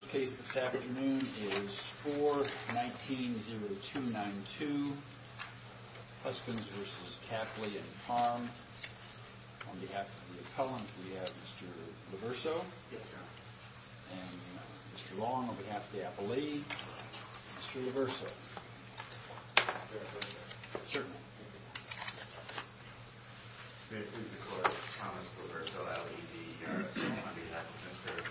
The case this afternoon is 4-19-0292 Huskins v. Tapley and Farm. On behalf of the appellant we have Mr. Reverso and Mr. Long. On behalf of the appellee, Mr. Reverso. May I please record Thomas Reverso, L.E.D. on behalf of Mr.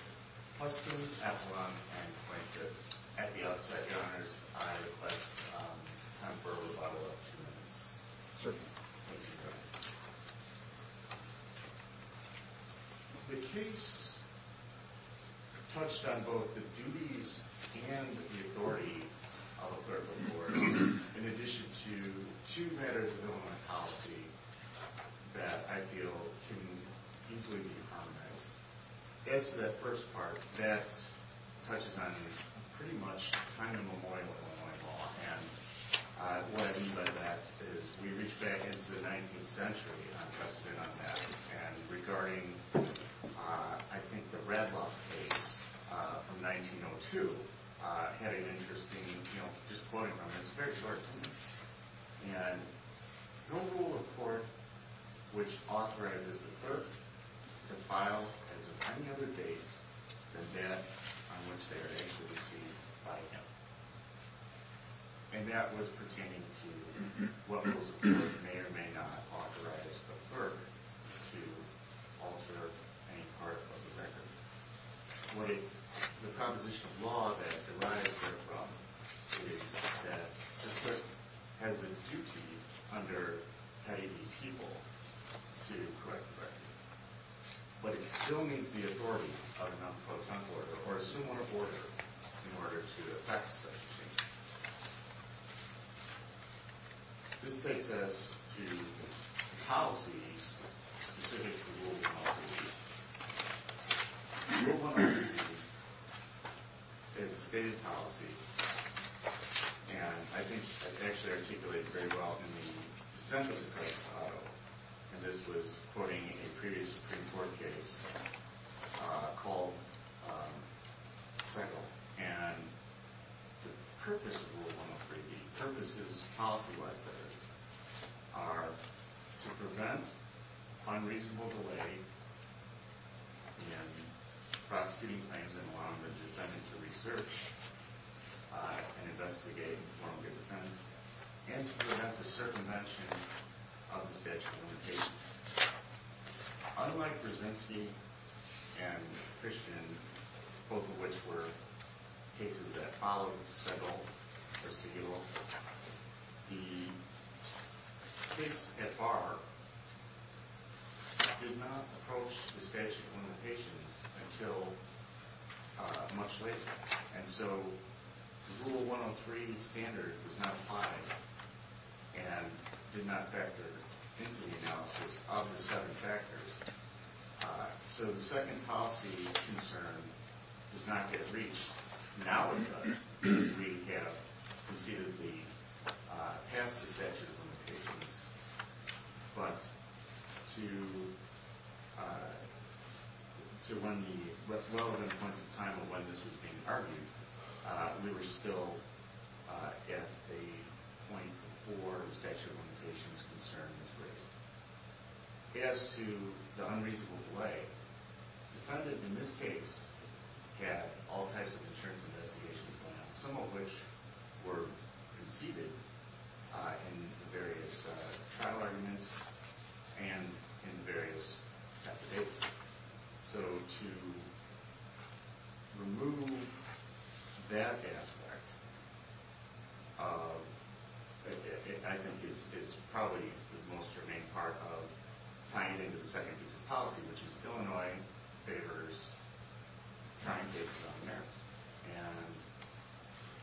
Huskins, appellant, and plaintiff. At the outset, your honors, I request time for a rebuttal of two minutes. The case touched on both the duties and the authority of a clerical court in addition to two matters of Illinois policy that I feel can easily be harmonized. As to that first part, that touches on pretty much kind of Memorial Illinois law and what I mean by that is we reach back into the 19th century and I'm interested in that and regarding I think the Radloff case from 1902. Had an interesting, just quoting from it, it's a very short one, and no rule of court which authorizes a clerk to file, as of any other date, the debt on which they are to be received by him. And that was pertaining to what rules of court may or may not authorize a clerk to alter any part of the record. The proposition of law that derives therefrom is that a clerk has a duty under having the people to correct the record. But it still needs the authority of a non-proton order or a similar order in order to effect such a change. This takes us to policies specific to rule of law. Rule of law is a stated policy and I think it actually articulates very well in the dissent of the First Auto and this was quoting a previous Supreme Court case called Seckill. And the purpose of rule of law, the purposes, policy-wise that is, are to prevent unreasonable delay in prosecuting claims and allowing the defendant to research and investigate formerly defendants and to prevent the circumvention of the statute of limitations. Unlike Brzezinski and Christian, both of which were cases that followed Seckill, the case at bar did not approach the statute of limitations until much later. And so rule 103 standard was not applied and did not factor into the analysis of the seven factors. So the second policy concern does not get reached. Now it does. We have conceivably passed the statute of limitations, but to one of the relevant points in time of when this was being argued, we were still at the point before the statute of limitations concern was raised. As to the unreasonable delay, the defendant in this case had all types of insurance investigations going on, some of which were conceded in the various trial arguments and in the various affidavits. So to remove that aspect I think is probably the most germane part of tying it into the second piece of policy, which is Illinois favors trying to get some merits. And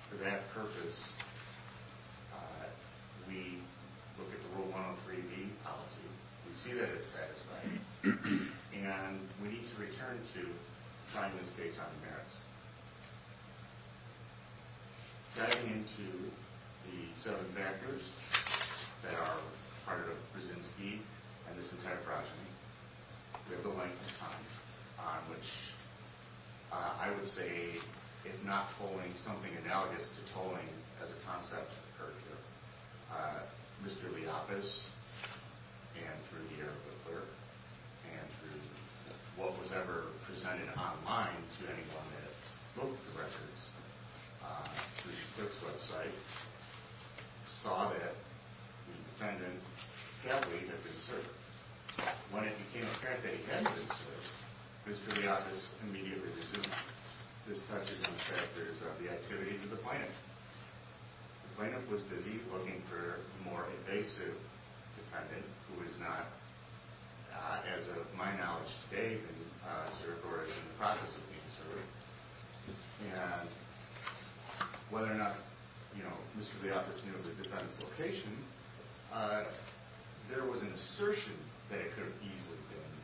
for that purpose, we look at the rule 103B policy. We see that it's satisfying. And we need to return to trying this case on merits. Getting into the seven factors that are part of Brzezinski and this entire project, we have the length of time on which I would say, if not tolling, something analogous to tolling as a concept occurred here. Mr. Leopas, and through the ear of the clerk, and through what was ever presented online to anyone that looked at the records, through the clerk's website, saw that the defendant had been served. When it became apparent that he had been served, Mr. Leopas immediately resumed his touches on the factors of the activities of the plaintiff. The plaintiff was busy looking for a more invasive defendant who was not, as of my knowledge today, been served or is in the process of being served. And whether or not, you know, Mr. Leopas knew the defendant's location, there was an assertion that it could have easily been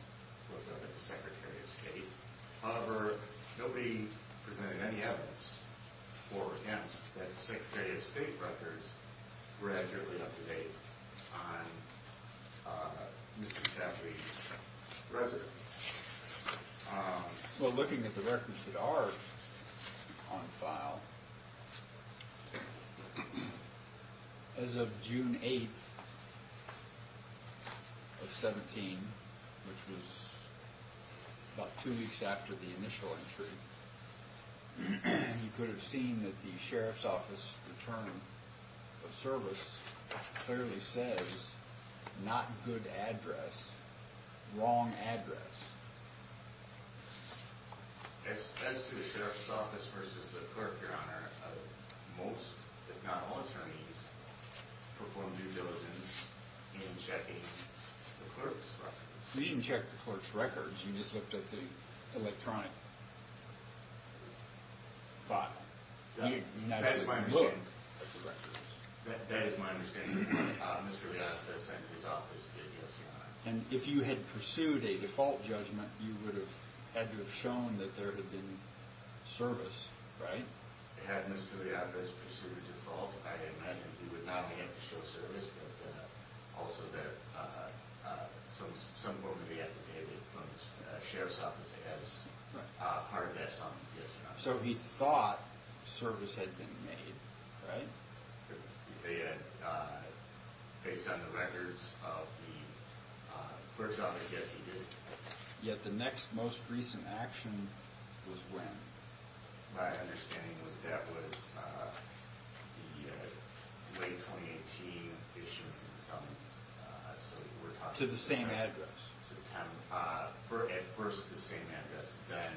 looked up at the Secretary of State. However, nobody presented any evidence for or against that the Secretary of State records were actually up to date on Mr. Chaffee's residence. Well, looking at the records that are on file, as of June 8th of 17, which was about two weeks after the initial entry, you could have seen that the Sheriff's Office return of service clearly says, not good address, wrong address. As to the Sheriff's Office versus the clerk, Your Honor, most, if not all, attorneys perform due diligence in checking the clerk's records. You didn't check the clerk's records, you just looked at the electronic file. That is my understanding. Mr. Leopas and his office did, Your Honor. And if you had pursued a default judgment, you would have had to have shown that there had been service, right? Had Mr. Leopas pursued a default, I imagine he would not only have to show service, but also that some form would be affidavit from the Sheriff's Office as part of that summons, yes or no? So he thought service had been made, right? Based on the records of the clerk's office, yes, he did. Yet the next most recent action was when? My understanding was that was the late 2018 issuance and summons. To the same address? At first, the same address. Then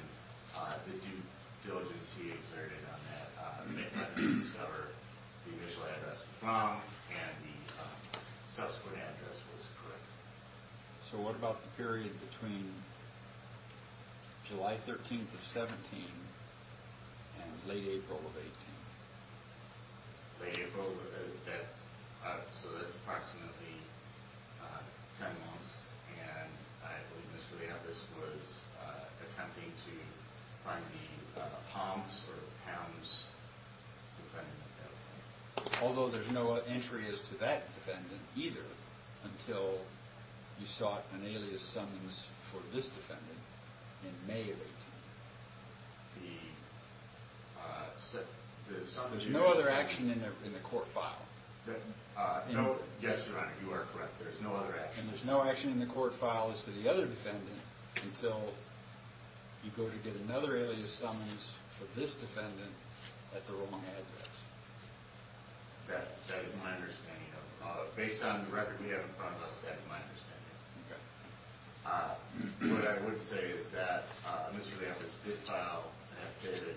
the due diligence he exerted on that made him discover the initial address was wrong, and the subsequent address was correct. So what about the period between July 13th of 17 and late April of 18? Late April, so that's approximately 10 months, and I believe Mr. Leopas was attempting to find the Palms or Pounds defendant. Although there's no entry as to that defendant either until you sought an alias summons for this defendant in May of 18. The summons... There's no other action in the court file. Yes, Your Honor, you are correct. There's no other action. The action in the court file is to the other defendant until you go to get another alias summons for this defendant at the wrong address. That is my understanding. Based on the record we have in front of us, that is my understanding. Okay. What I would say is that Mr. Leopas did file an affidavit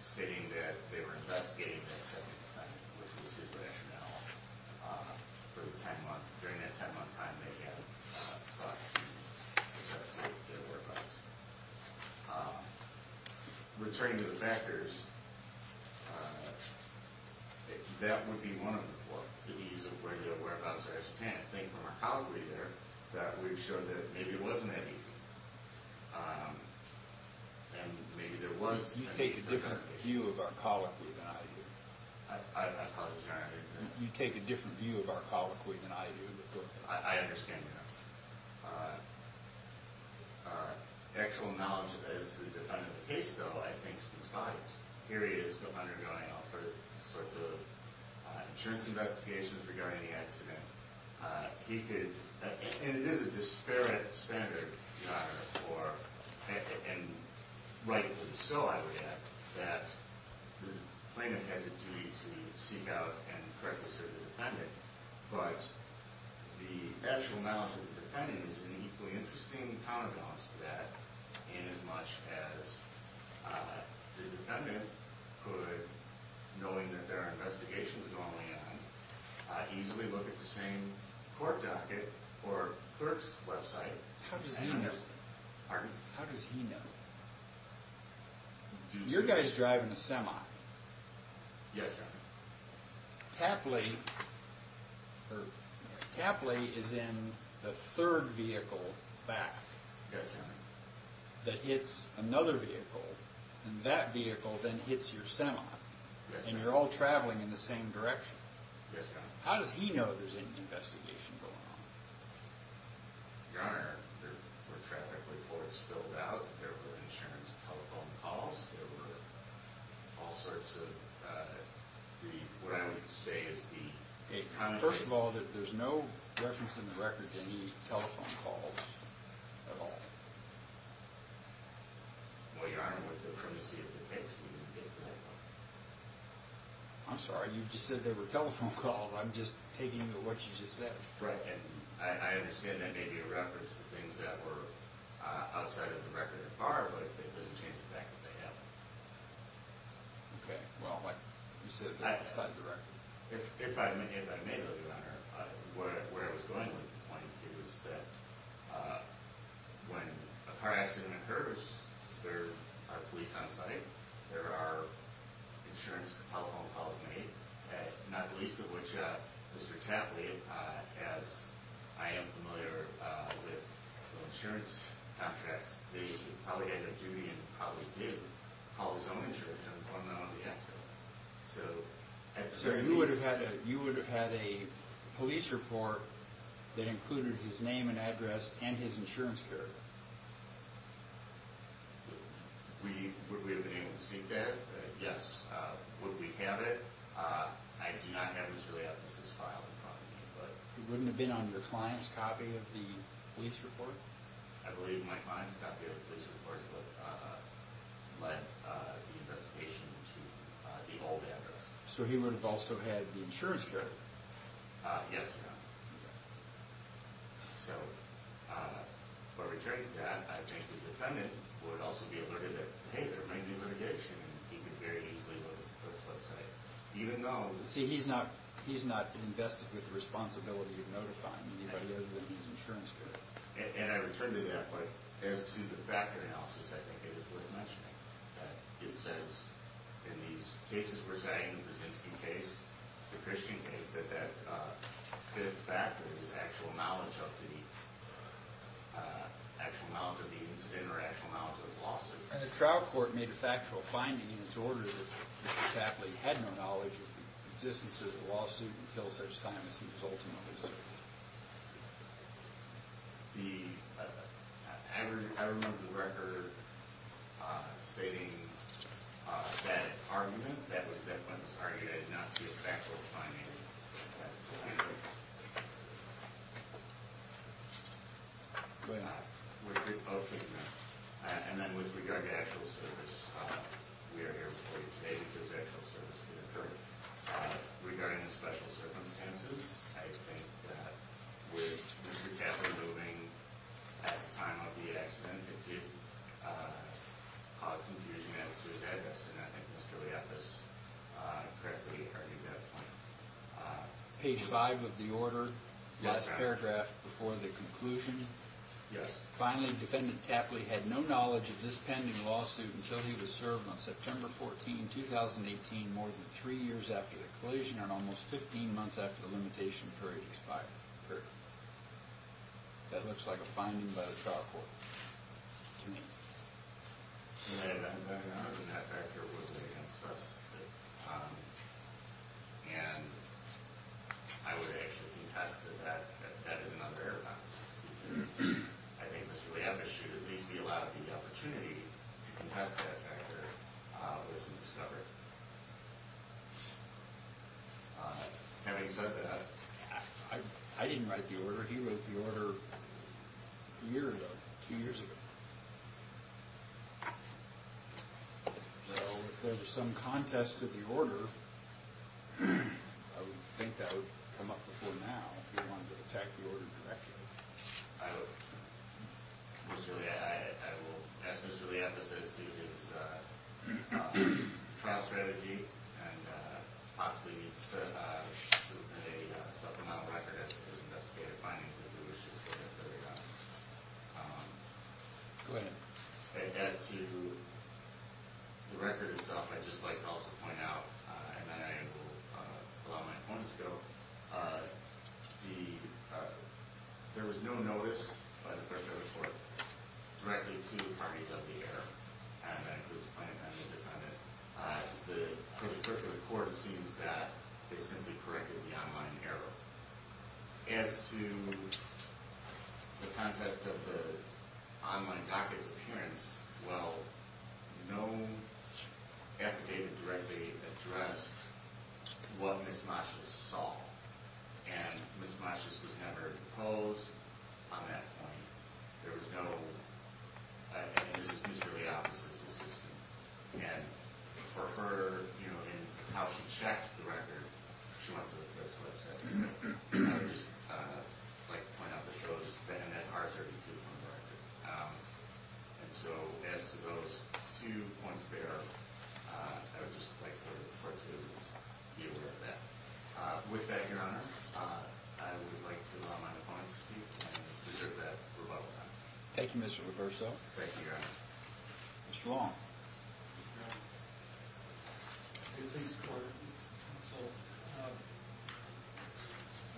stating that they were investigating that second defendant, which was his rationale. During that 10-month time, they had sought to investigate their whereabouts. Returning to the factors, that would be one of the ways of whereabouts are as you can. I think from our colloquy there that we've shown that maybe it wasn't that easy. And maybe there was... You take a different view of our colloquy than I do. I apologize, Your Honor. You take a different view of our colloquy than I do. I understand that. The actual knowledge that is to the defendant of the case, though, I think is conspired. Here he is undergoing all sorts of insurance investigations regarding the accident. He could... And it is a disparate standard, Your Honor, and rightfully so, I would add, that the plaintiff has a duty to seek out and correctly serve the defendant. But the actual knowledge of the defendant is an equally interesting counterbalance to that. In as much as the defendant could, knowing that there are investigations going on, easily look at the same court docket or clerk's website. How does he know? Pardon? How does he know? You're guys drive in a semi. Yes, Your Honor. Tapley... Tapley is in the third vehicle back. Yes, Your Honor. That hits another vehicle, and that vehicle then hits your semi. Yes, Your Honor. And you're all traveling in the same direction. Yes, Your Honor. How does he know there's an investigation going on? Your Honor, there were traffic reports filled out. There were insurance telephone calls. There were all sorts of... What I would say is the... First of all, there's no reference in the record to any telephone calls at all. Well, Your Honor, with the primacy of the case, we didn't get to that point. I'm sorry. You just said there were telephone calls. I'm just taking what you just said. I understand that may be a reference to things that were outside of the record at the bar, but it doesn't change the fact that they happened. Okay. Well, you said outside of the record. If I may, though, Your Honor, where I was going with the point is that when a car accident occurs, there are police on site, there are insurance telephone calls made, not the least of which Mr. Tapley, as I am familiar with insurance contracts, he probably had that duty and probably did call his own insurance on the accident. So... Sir, you would have had a police report that included his name and address and his insurance card. Would we have been able to seek that? Yes. Would we have it? I do not have Mr. Leopold's file in front of me, but... It wouldn't have been on your client's copy of the police report? I believe my client's copy of the police report led the investigation to the old address. So he would have also had the insurance card? Yes, Your Honor. Okay. So, for a charge of that, I think the defendant would also be alerted that, hey, there might be litigation, and he could very easily go to the public's website. Even though... See, he's not invested with the responsibility of notifying anybody other than his insurance card. And I return to that, but as to the factor analysis, I think it is worth mentioning that it says, in these cases we're saying, the Brzezinski case, the Christian case, that the factor is actual knowledge of the incident or actual knowledge of the lawsuit. And the trial court made a factual finding in its order that Mr. Tapley had no knowledge of the existence of the lawsuit until such time as he was ultimately served. The... I remember the record stating that argument, that when it was argued, I did not see a factual finding. Why not? Okay. And then with regard to actual service, we are here before you today because actual service did occur. Regarding the special circumstances, I think that with Mr. Tapley moving at the time of the accident, it did cause confusion as to his address. And I think Mr. Lief has correctly argued that point. Page 5 of the order, last paragraph before the conclusion. Yes. Finally, Defendant Tapley had no knowledge of this pending lawsuit until he was served on September 14, 2018, more than three years after the collision and almost 15 months after the limitation period expired. That looks like a finding by the trial court to me. And that factor was against us. And I would actually contest that that is another error. I think Mr. Lief should at least be allowed the opportunity to contest that factor with some discovery. Having said that, I didn't write the order. He wrote the order a year ago, two years ago. So if there's some contest to the order, I would think that would come up before now if he wanted to attack the order directly. I will ask Mr. Lief to say his trial strategy and possibly a supplemental record as to his investigative findings. Go ahead. As to the record itself, I'd just like to also point out, and then I will allow my opponent to go, there was no notice by the court directly to the parties of the error. And that includes the plaintiff and the defendant. The court assumes that they simply corrected the online error. As to the contest of the online docket's appearance, well, no affidavit directly addressed what Ms. Moshes saw. And Ms. Moshes was never posed on that point. There was no – and this is Mr. Lief's assistant. And for her, you know, in how she checked the record, she went to the court's website. So I would just like to point out the show has been MSR32 on the record. And so as to those two points there, I would just like the court to be aware of that. With that, Your Honor, I would like to allow my opponent to speak and to serve that rebuttal time. Thank you, Mr. Reverso. Thank you, Your Honor. Mr. Long. Good day, Mr. Court.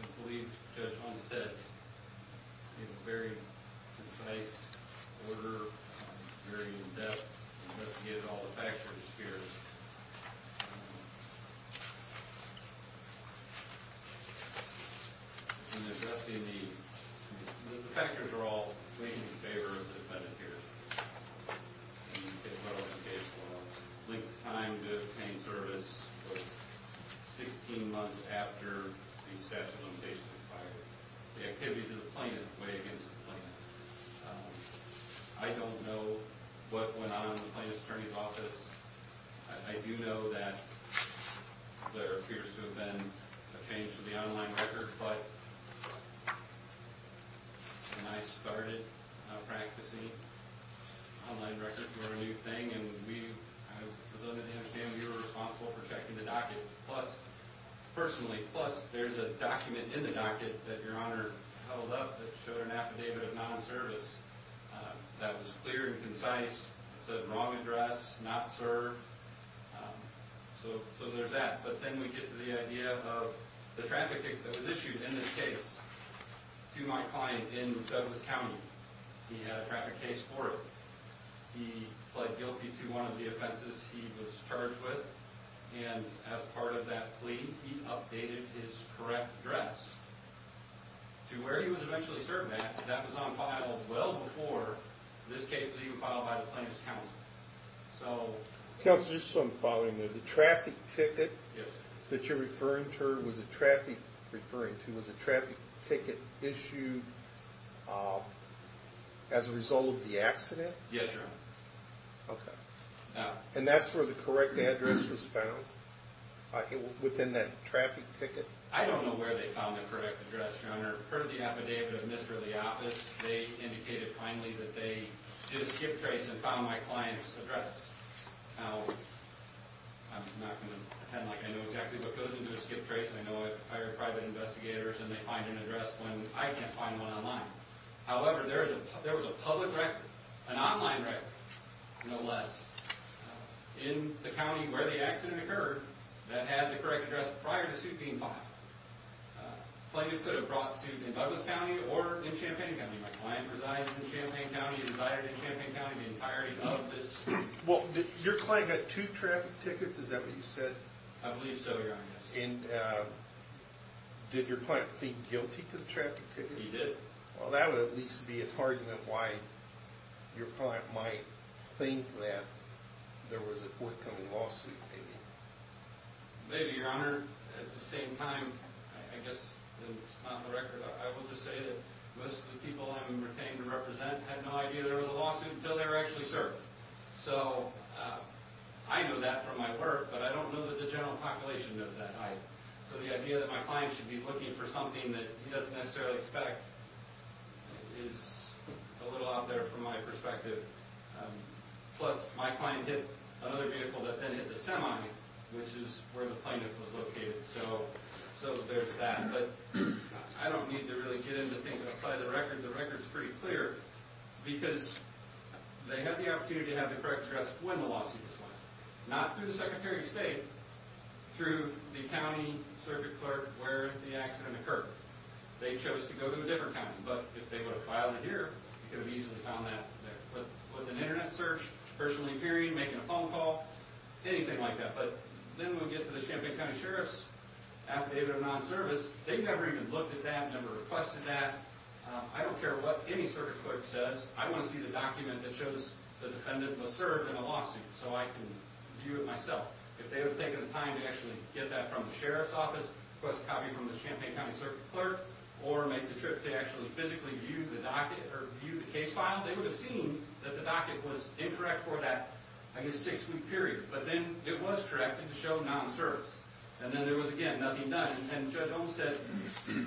I believe Judge Hunsted gave a very concise order, very in-depth, just to get all the factors here. In addressing the – the factors are all in favor of the defendant here. And you can follow the case law. Length of time to obtain service was 16 months after the statute of limitations expired. The activities of the plaintiff weighed against the plaintiff. I don't know what went on in the plaintiff's attorney's office. I do know that there appears to have been a change to the online record. But when I started practicing online records were a new thing. And we – as I understand, you were responsible for checking the docket. Plus – personally, plus there's a document in the docket that Your Honor held up that showed an affidavit of non-service. That was clear and concise. It said wrong address, not served. So there's that. But then we get to the idea of the traffic that was issued in this case to my client in Douglas County. He had a traffic case for it. He pled guilty to one of the offenses he was charged with. And as part of that plea, he updated his correct address to where he was eventually served at. That was on file well before this case was even filed by the plaintiff's counsel. So – Counsel, just so I'm following. The traffic ticket that you're referring to was a traffic ticket issued as a result of the accident? Yes, Your Honor. Okay. And that's where the correct address was found within that traffic ticket? I don't know where they found the correct address, Your Honor. I heard the affidavit of Mr. Leopold. They indicated finally that they did a skip trace and found my client's address. Now, I'm not going to pretend like I know exactly what goes into a skip trace. I know I've hired private investigators and they find an address when I can't find one online. However, there was a public record, an online record, no less, in the county where the accident occurred that had the correct address prior to suit being filed. The plaintiff could have brought suit in Douglas County or in Champaign County. My client resides in Champaign County and is hired in Champaign County in the entirety of this case. Well, did your client get two traffic tickets? Is that what you said? I believe so, Your Honor. And did your client plead guilty to the traffic ticket? He did. Well, that would at least be a target of why your client might think that there was a forthcoming lawsuit, maybe. Maybe, Your Honor. At the same time, I guess it's not the record. I will just say that most of the people I'm pretending to represent had no idea there was a lawsuit until they were actually served. So, I know that from my work, but I don't know that the general population knows that height. So, the idea that my client should be looking for something that he doesn't necessarily expect is a little out there from my perspective. Plus, my client hit another vehicle that then hit the semi, which is where the plaintiff was located. So, there's that. But I don't need to really get into things outside of the record. The record's pretty clear because they had the opportunity to have the correct address when the lawsuit was filed. Not through the Secretary of State. Through the county circuit clerk where the accident occurred. They chose to go to a different county. But if they would have filed it here, you could have easily found that there. With an internet search, personally, period, making a phone call, anything like that. But then we get to the Champaign County Sheriff's Affidavit of Non-Service. They never even looked at that, never requested that. I don't care what any circuit clerk says. I want to see the document that shows the defendant was served in a lawsuit so I can view it myself. If they would have taken the time to actually get that from the Sheriff's Office, request a copy from the Champaign County Circuit Clerk, or make the trip to actually physically view the case file, they would have seen that the docket was incorrect for that, I guess, six-week period. But then it was corrected to show non-service. And then there was, again, nothing done. And Judge Olmstead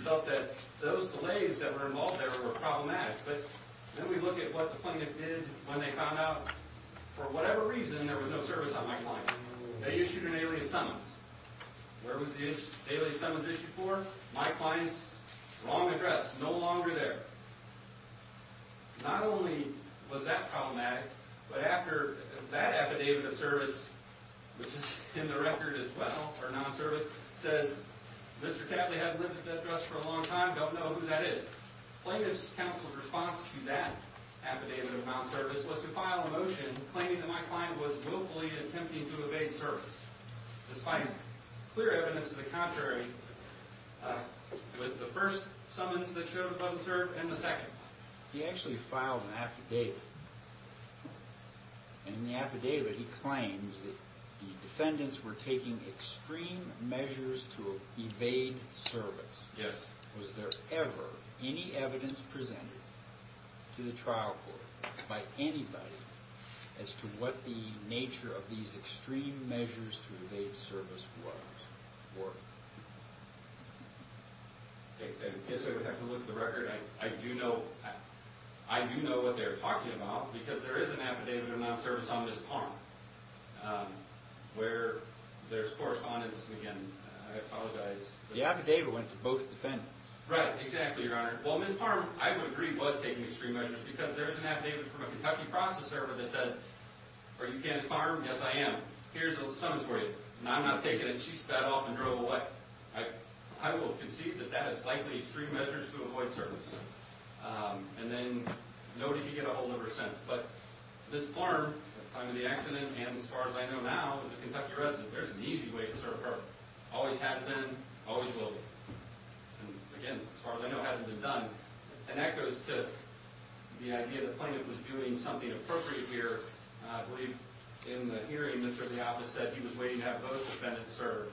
felt that those delays that were involved there were problematic. But then we look at what the plaintiff did when they found out, for whatever reason, there was no service on my client. They issued an alias summons. Where was the alias summons issued for? My client's long address, no longer there. Not only was that problematic, but after that Affidavit of Service, which is in the record as well, or non-service, says, Mr. Catley hasn't lived at that address for a long time, don't know who that is. Plaintiff's counsel's response to that Affidavit of Non-Service was to file a motion claiming that my client was willfully attempting to evade service. Despite clear evidence of the contrary with the first summons that showed it wasn't served and the second. He actually filed an Affidavit. And in the Affidavit he claims that the defendants were taking extreme measures to evade service. Yes. Was there ever any evidence presented to the trial court by anybody as to what the nature of these extreme measures to evade service was? Or. I guess I would have to look at the record. I do know. I do know what they're talking about because there is an Affidavit of Non-Service on this parm. Where there's correspondence we can apologize. The Affidavit went to both defendants. Right. Exactly, Your Honor. Well, Ms. Parham, I would agree, was taking extreme measures because there's an Affidavit from a Kentucky process server that says. Are you Kenneth Parham? Yes, I am. Here's a summons for you. And I'm not taking it. She sped off and drove away. I will concede that that is likely extreme measures to avoid service. And then nobody could get ahold of her since. But Ms. Parham, at the time of the accident and as far as I know now, is a Kentucky resident. There's an easy way to serve her. Always has been. Always will be. And, again, as far as I know, hasn't been done. And that goes to the idea that plaintiff was doing something appropriate here. I believe in the hearing, Mr. Diopas said he was waiting to have both defendants served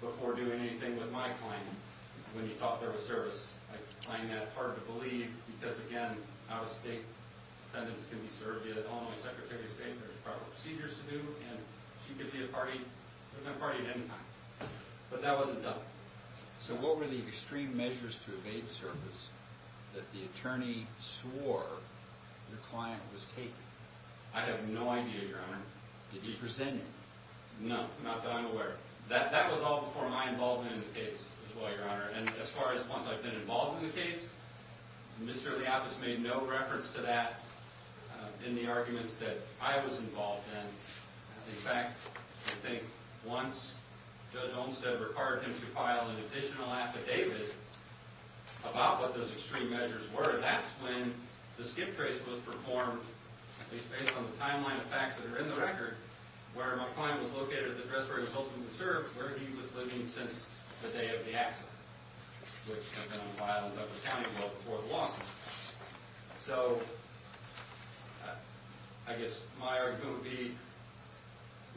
before doing anything with my client. When he thought there was service. I find that hard to believe because, again, out-of-state defendants can be served via the Illinois Secretary of State. There's proper procedures to do. And she could be a party at any time. But that wasn't done. So what were the extreme measures to evade service that the attorney swore your client was taking? I have no idea, Your Honor. Did he present you? No. Not that I'm aware of. That was all before my involvement in the case, as well, Your Honor. And as far as once I've been involved in the case, Mr. Diopas made no reference to that in the arguments that I was involved in. In fact, I think once Judge Olmstead required him to file an additional affidavit about what those extreme measures were, that's when the skip trace was performed, at least based on the timeline of facts that are in the record, where my client was located at the address where he was hoping to serve, where he was living since the day of the accident, which had been on file in Douglas County well before the lawsuit. So I guess my argument would be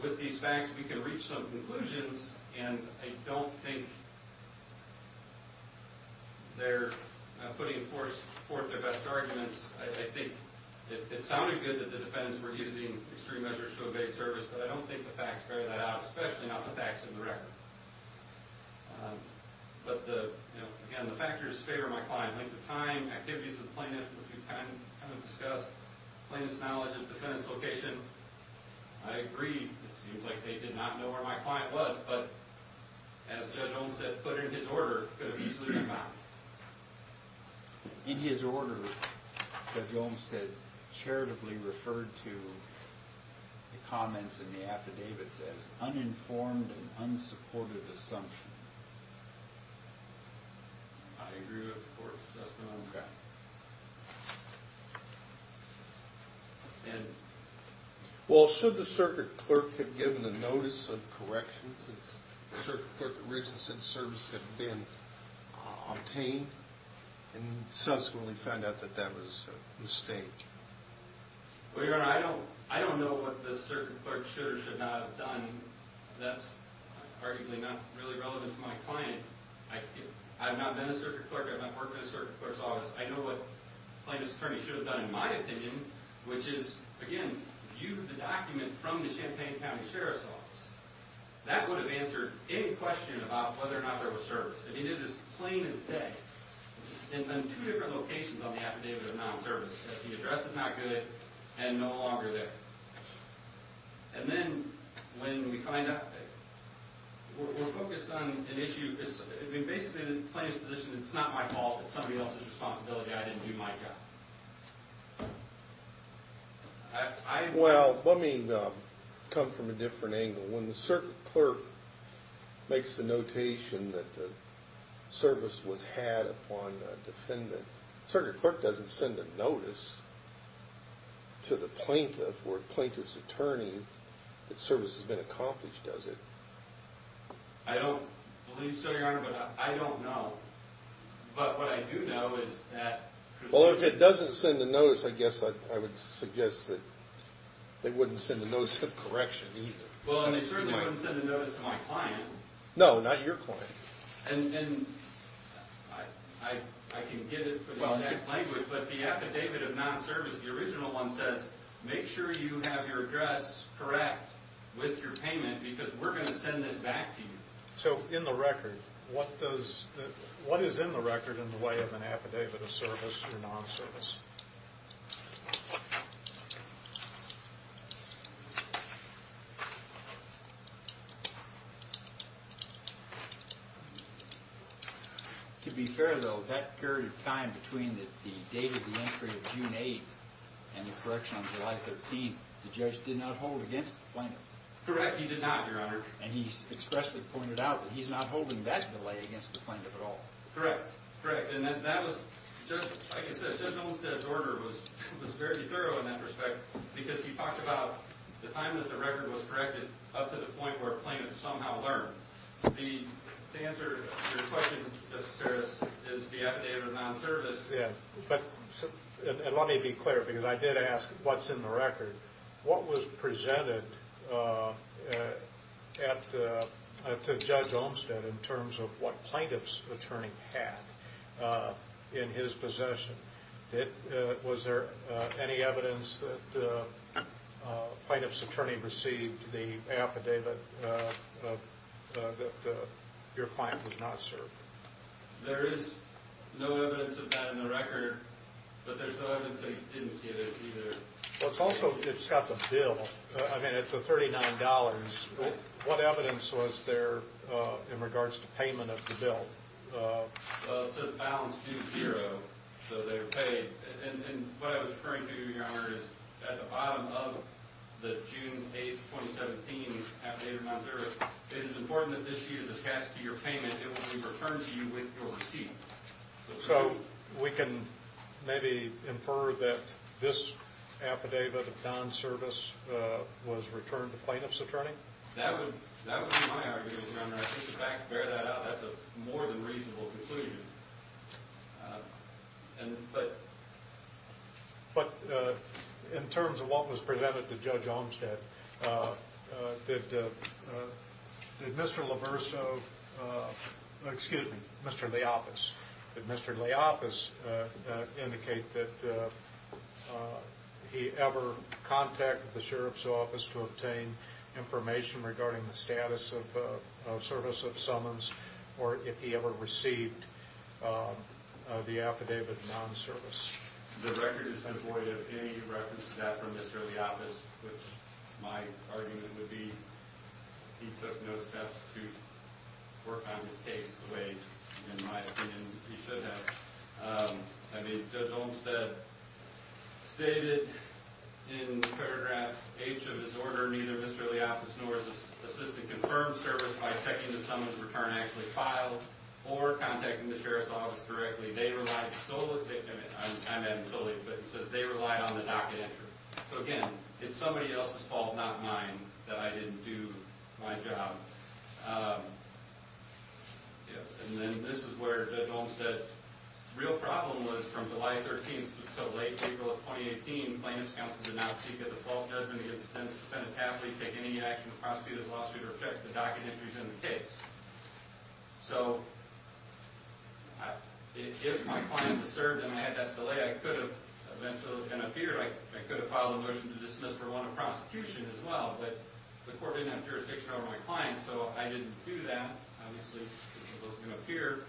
with these facts, we can reach some conclusions, and I don't think they're putting forth their best arguments. I think it sounded good that the defendants were using extreme measures to evade service, but I don't think the facts carry that out, especially not the facts in the record. But, again, the factors favor my client, length of time, activities with the plaintiff, which we've kind of discussed, plaintiff's knowledge of the defendant's location. I agree, it seems like they did not know where my client was, but as Judge Olmstead put in his order, it could have easily been found. In his order, Judge Olmstead charitably referred to the comments in the affidavits as uninformed and unsupported assumption. I agree with the Court's assessment. Okay. Ed. Well, should the circuit clerk have given the notice of correction since the circuit clerk had written since service had been obtained and subsequently found out that that was a mistake? Well, Your Honor, I don't know what the circuit clerk should or should not have done. That's arguably not really relevant to my client. I've not been a circuit clerk, I've not worked in a circuit clerk's office. I know what the plaintiff's attorney should have done, in my opinion, which is, again, viewed the document from the Champaign County Sheriff's Office. That would have answered any question about whether or not there was service. If he did this plain as day, in two different locations on the affidavit of non-service, that the address is not good and no longer there. And then, when we find out, we're focused on an issue. Basically, the plaintiff's position is it's not my fault, it's somebody else's responsibility, I didn't do my job. Well, let me come from a different angle. When the circuit clerk makes the notation that the service was had upon a defendant, the circuit clerk doesn't send a notice to the plaintiff or the plaintiff's attorney that service has been accomplished, does it? I don't believe so, Your Honor, but I don't know. But what I do know is that... Well, if it doesn't send a notice, I guess I would suggest that they wouldn't send a notice of correction either. Well, and they certainly wouldn't send a notice to my client. No, not your client. And I can get it for the exact language, but the affidavit of non-service, the original one says, make sure you have your address correct with your payment because we're going to send this back to you. So in the record, what is in the record in the way of an affidavit of service or non-service? To be fair, though, that period of time between the date of the entry of June 8th and the correction on July 13th, the judge did not hold against the plaintiff. Correct, he did not, Your Honor. And he expressly pointed out that he's not holding that delay against the plaintiff at all. Correct, correct. And that was, like I said, Judge Olmstead's order was very thorough in that respect because he talked about the time that the record was corrected up to the point where a plaintiff somehow learned. The answer to your question, Justice Seres, is the affidavit of non-service. Yeah, but let me be clear because I did ask what's in the record. What was presented to Judge Olmstead in terms of what plaintiff's attorney had in his possession? Was there any evidence that plaintiff's attorney received the affidavit that your client was not served? There is no evidence of that in the record, but there's no evidence that he didn't get it either. Well, it's also, it's got the bill. I mean, at the $39, what evidence was there in regards to payment of the bill? It says balance due zero, so they were paid. And what I was referring to, Your Honor, is at the bottom of the June 8th, 2017 affidavit of non-service, it is important that this sheet is attached to your payment. It will be referred to you with your receipt. So we can maybe infer that this affidavit of non-service was returned to plaintiff's attorney? That would be my argument, Your Honor. I think, in fact, to bear that out, that's a more than reasonable conclusion. But in terms of what was presented to Judge Olmstead, did Mr. LaVerso, excuse me, Mr. Leopas, did Mr. Leopas indicate that he ever contacted the Sheriff's Office to obtain information regarding the status of service of summons, or if he ever received the affidavit of non-service? The record is unvoided of any reference to that from Mr. Leopas, which my argument would be he took no steps to work on this case the way, in my opinion, he should have. I mean, Judge Olmstead stated in paragraph H of his order, neither Mr. Leopas nor his assistant confirmed service by checking the summons return actually filed or contacting the Sheriff's Office directly. They relied solely, I'm adding solely, but it says they relied on the docket entry. So again, it's somebody else's fault, not mine, that I didn't do my job. And then this is where Judge Olmstead's real problem was from July 13th to so late, April of 2018, plaintiff's counsel did not seek a default judgment against the defendant. The defendant has not taken any action to prosecute the lawsuit or check the docket entries in the case. So if my client had served and I had that delay, I could have eventually been up here. I could have filed a motion to dismiss for one of prosecution as well, but the court didn't have jurisdiction over my client, so I didn't do that. Obviously, this was going to appear.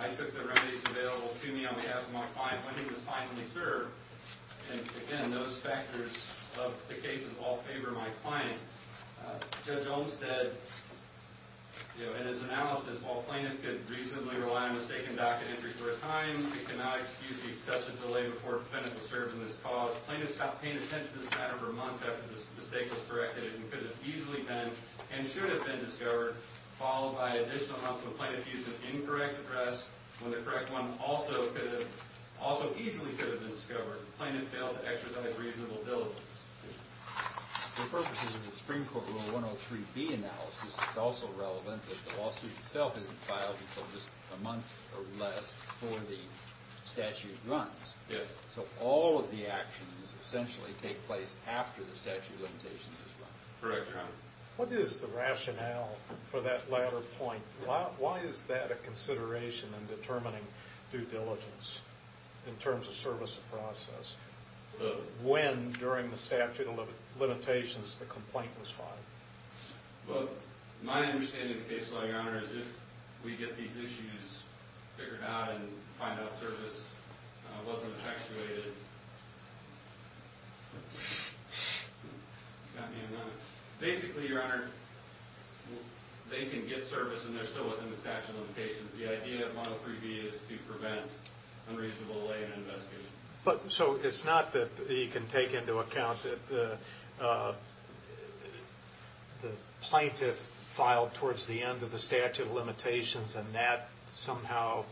I took the remedies available to me on behalf of my client when he was finally served, and again, those factors of the cases all favor my client. Judge Olmstead, you know, in his analysis, while plaintiff could reasonably rely on mistaken docket entries four times, he cannot excuse the excessive delay before a defendant was served in this cause. Plaintiff stopped paying attention to this matter for months after this mistake was corrected. It could have easily been and should have been discovered, followed by additional months when plaintiff used an incorrect address, when the correct one also easily could have been discovered. Plaintiff failed to exercise reasonable diligence. For purposes of the Supreme Court Rule 103B analysis, it's also relevant that the lawsuit itself isn't filed until just a month or less before the statute runs. So all of the actions essentially take place after the statute of limitations is run. Correct, Your Honor. What is the rationale for that latter point? Why is that a consideration in determining due diligence in terms of service of process, when during the statute of limitations the complaint was filed? Well, my understanding of the case law, Your Honor, is if we get these issues figured out and find out service wasn't effectuated, basically, Your Honor, they can get service and they're still within the statute of limitations. The idea of 103B is to prevent unreasonable delay in investigation. So it's not that you can take into account that the plaintiff filed towards the end of the statute of limitations and that somehow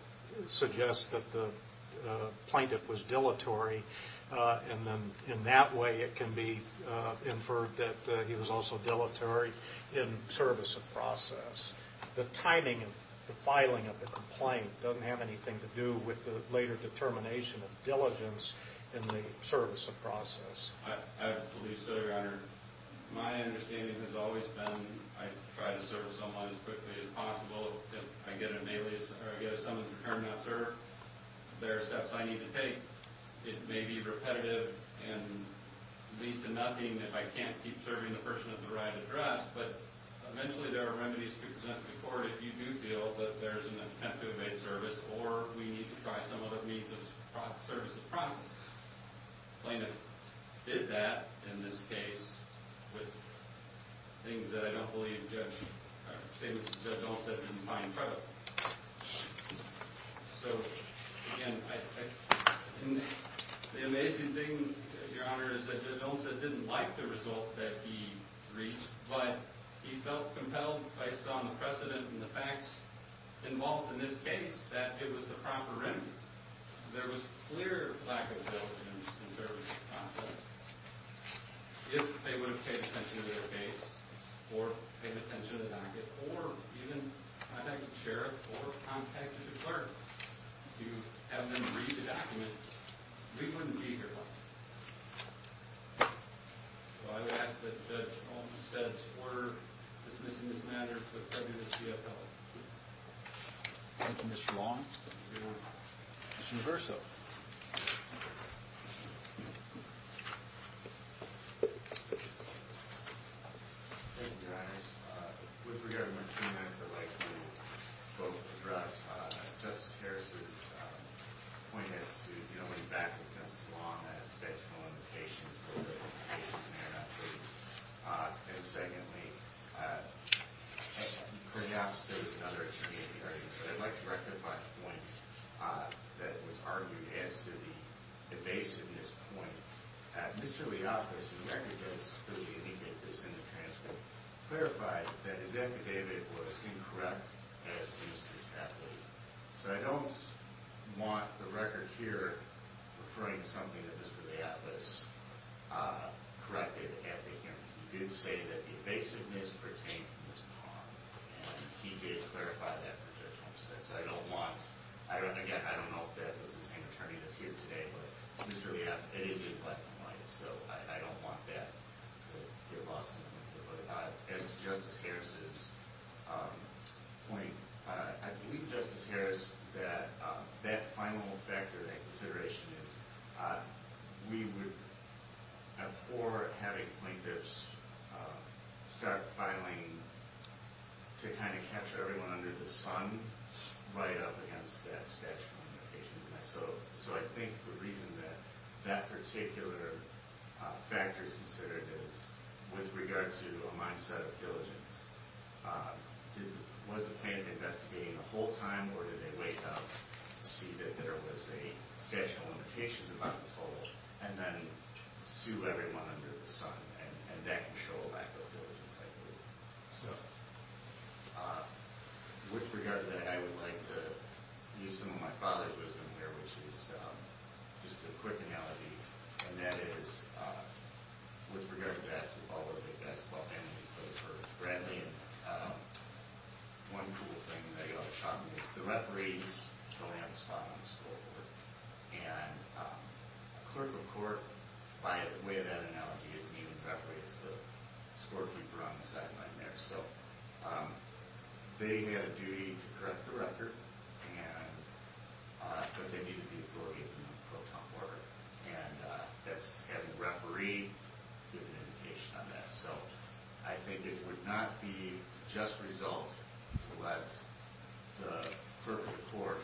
suggests that the plaintiff was dilatory, and then in that way it can be inferred that he was also dilatory in service of process. The timing of the filing of the complaint doesn't have anything to do with the later determination of diligence in the service of process. I believe so, Your Honor. My understanding has always been I try to serve someone as quickly as possible. If I get someone's return not served, there are steps I need to take. It may be repetitive and lead to nothing if I can't keep serving the person at the right address, but eventually there are remedies to present to the court if you do feel that there's an attempt to evade service or we need to try some other means of service of process. The plaintiff did that in this case with things that I don't believe Judge Olta didn't find credible. So, again, the amazing thing, Your Honor, is that Judge Olta didn't like the result that he reached, but he felt compelled based on the precedent and the facts involved in this case that it was the proper remedy. There was clear lack of diligence in service of process. If they would have paid attention to their case or paid attention to the docket or even contacted the sheriff or contacted the clerk to have them read the document, we wouldn't be here, Your Honor. So I would ask that Judge Olta says order dismissing this matter to the federal CFO. Thank you, Mr. Long. Mr. Reverso. Thank you, Your Honor. With regard to my two minutes, I'd like to both address Justice Harris's point as to, you know, when you back this against the law and that it's a statute of limitations, the program of limitations may or may not be. And secondly, perhaps there's another attorney in the audience, but I'd like to rectify a point that was argued as to the evasiveness point. Mr. Leopolis' record does clearly indicate this in the transcript, clarified that his affidavit was incorrect as to Mr. Chapley. So I don't want the record here referring to something that Mr. Leopolis corrected after him. He did say that the evasiveness pertained to Mr. Long, and he did clarify that in the transcript. So I don't want – again, I don't know if that was the same attorney that's here today, but Mr. Leop – it is a black and white, so I don't want that to get lost in the middle of it. As to Justice Harris's point, I believe, Justice Harris, that that final factor, that consideration is we would, before having plaintiffs start filing, to kind of capture everyone under the sun right up against that statute of limitations. So I think the reason that that particular factor is considered is with regard to a mindset of diligence. Was the plaintiff investigating the whole time, or did they wake up, see that there was a statute of limitations above the total, and then sue everyone under the sun? And that can show a lack of diligence, I believe. So with regard to that, I would like to use some of my father's wisdom here, which is just a quick analogy, and that is, with regard to basketball, we're the best ball team in the country. Bradley, one cool thing that he always taught me is the referee is the land spot on the scoreboard. And a clerk of court, by way of that analogy, isn't even the referee. It's the scorekeeper on the sideline there. So they had a duty to correct the record, but they needed the authority of the pro tempore. And that's having a referee give an indication on that. So I think it would not be just result to let the clerk of court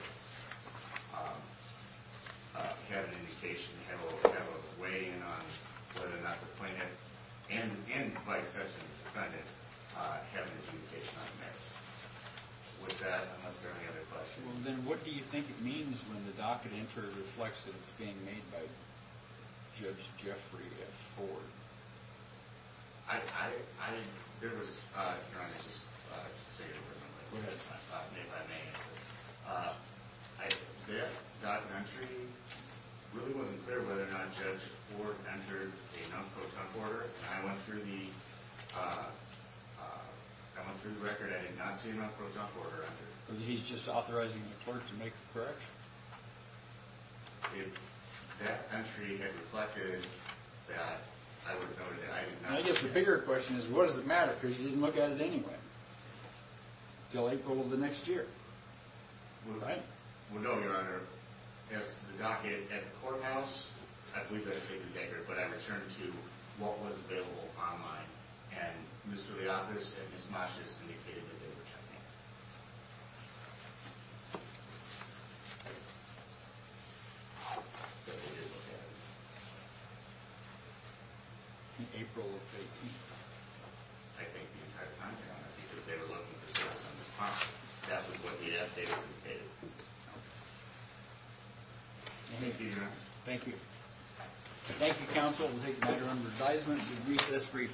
have an indication, have a weigh-in on whether or not the plaintiff, and by extension the defendant, have an indication on that. With that, is there any other questions? Well, then what do you think it means when the docket enter reflects that it's being made by Judge Jeffrey Ford? I didn't – there was – you know, I'm just saying it personally. Go ahead. It's not made by me. That docket entry really wasn't clear whether or not Judge Ford entered a non-pro tempore. I went through the record. I did not see a non-pro tempore enter. He's just authorizing the clerk to make the correction? If that entry had reflected that, I would have noted that. I guess the bigger question is, what does it matter? Because you didn't look at it anyway until April of the next year. Right? Well, no, Your Honor. As to the docket at the courthouse, I believe that statement is accurate, but I returned to what was available online, and Mr. Leofis and Ms. Masch just indicated that they were checking it. But they did look at it. In April of 2018? I think the entire time, Your Honor, because they were looking for stress on this document. That was what the update indicated. Okay. Thank you, Your Honor. Thank you. Thank you, counsel. We'll take the matter under advisement to recess briefly.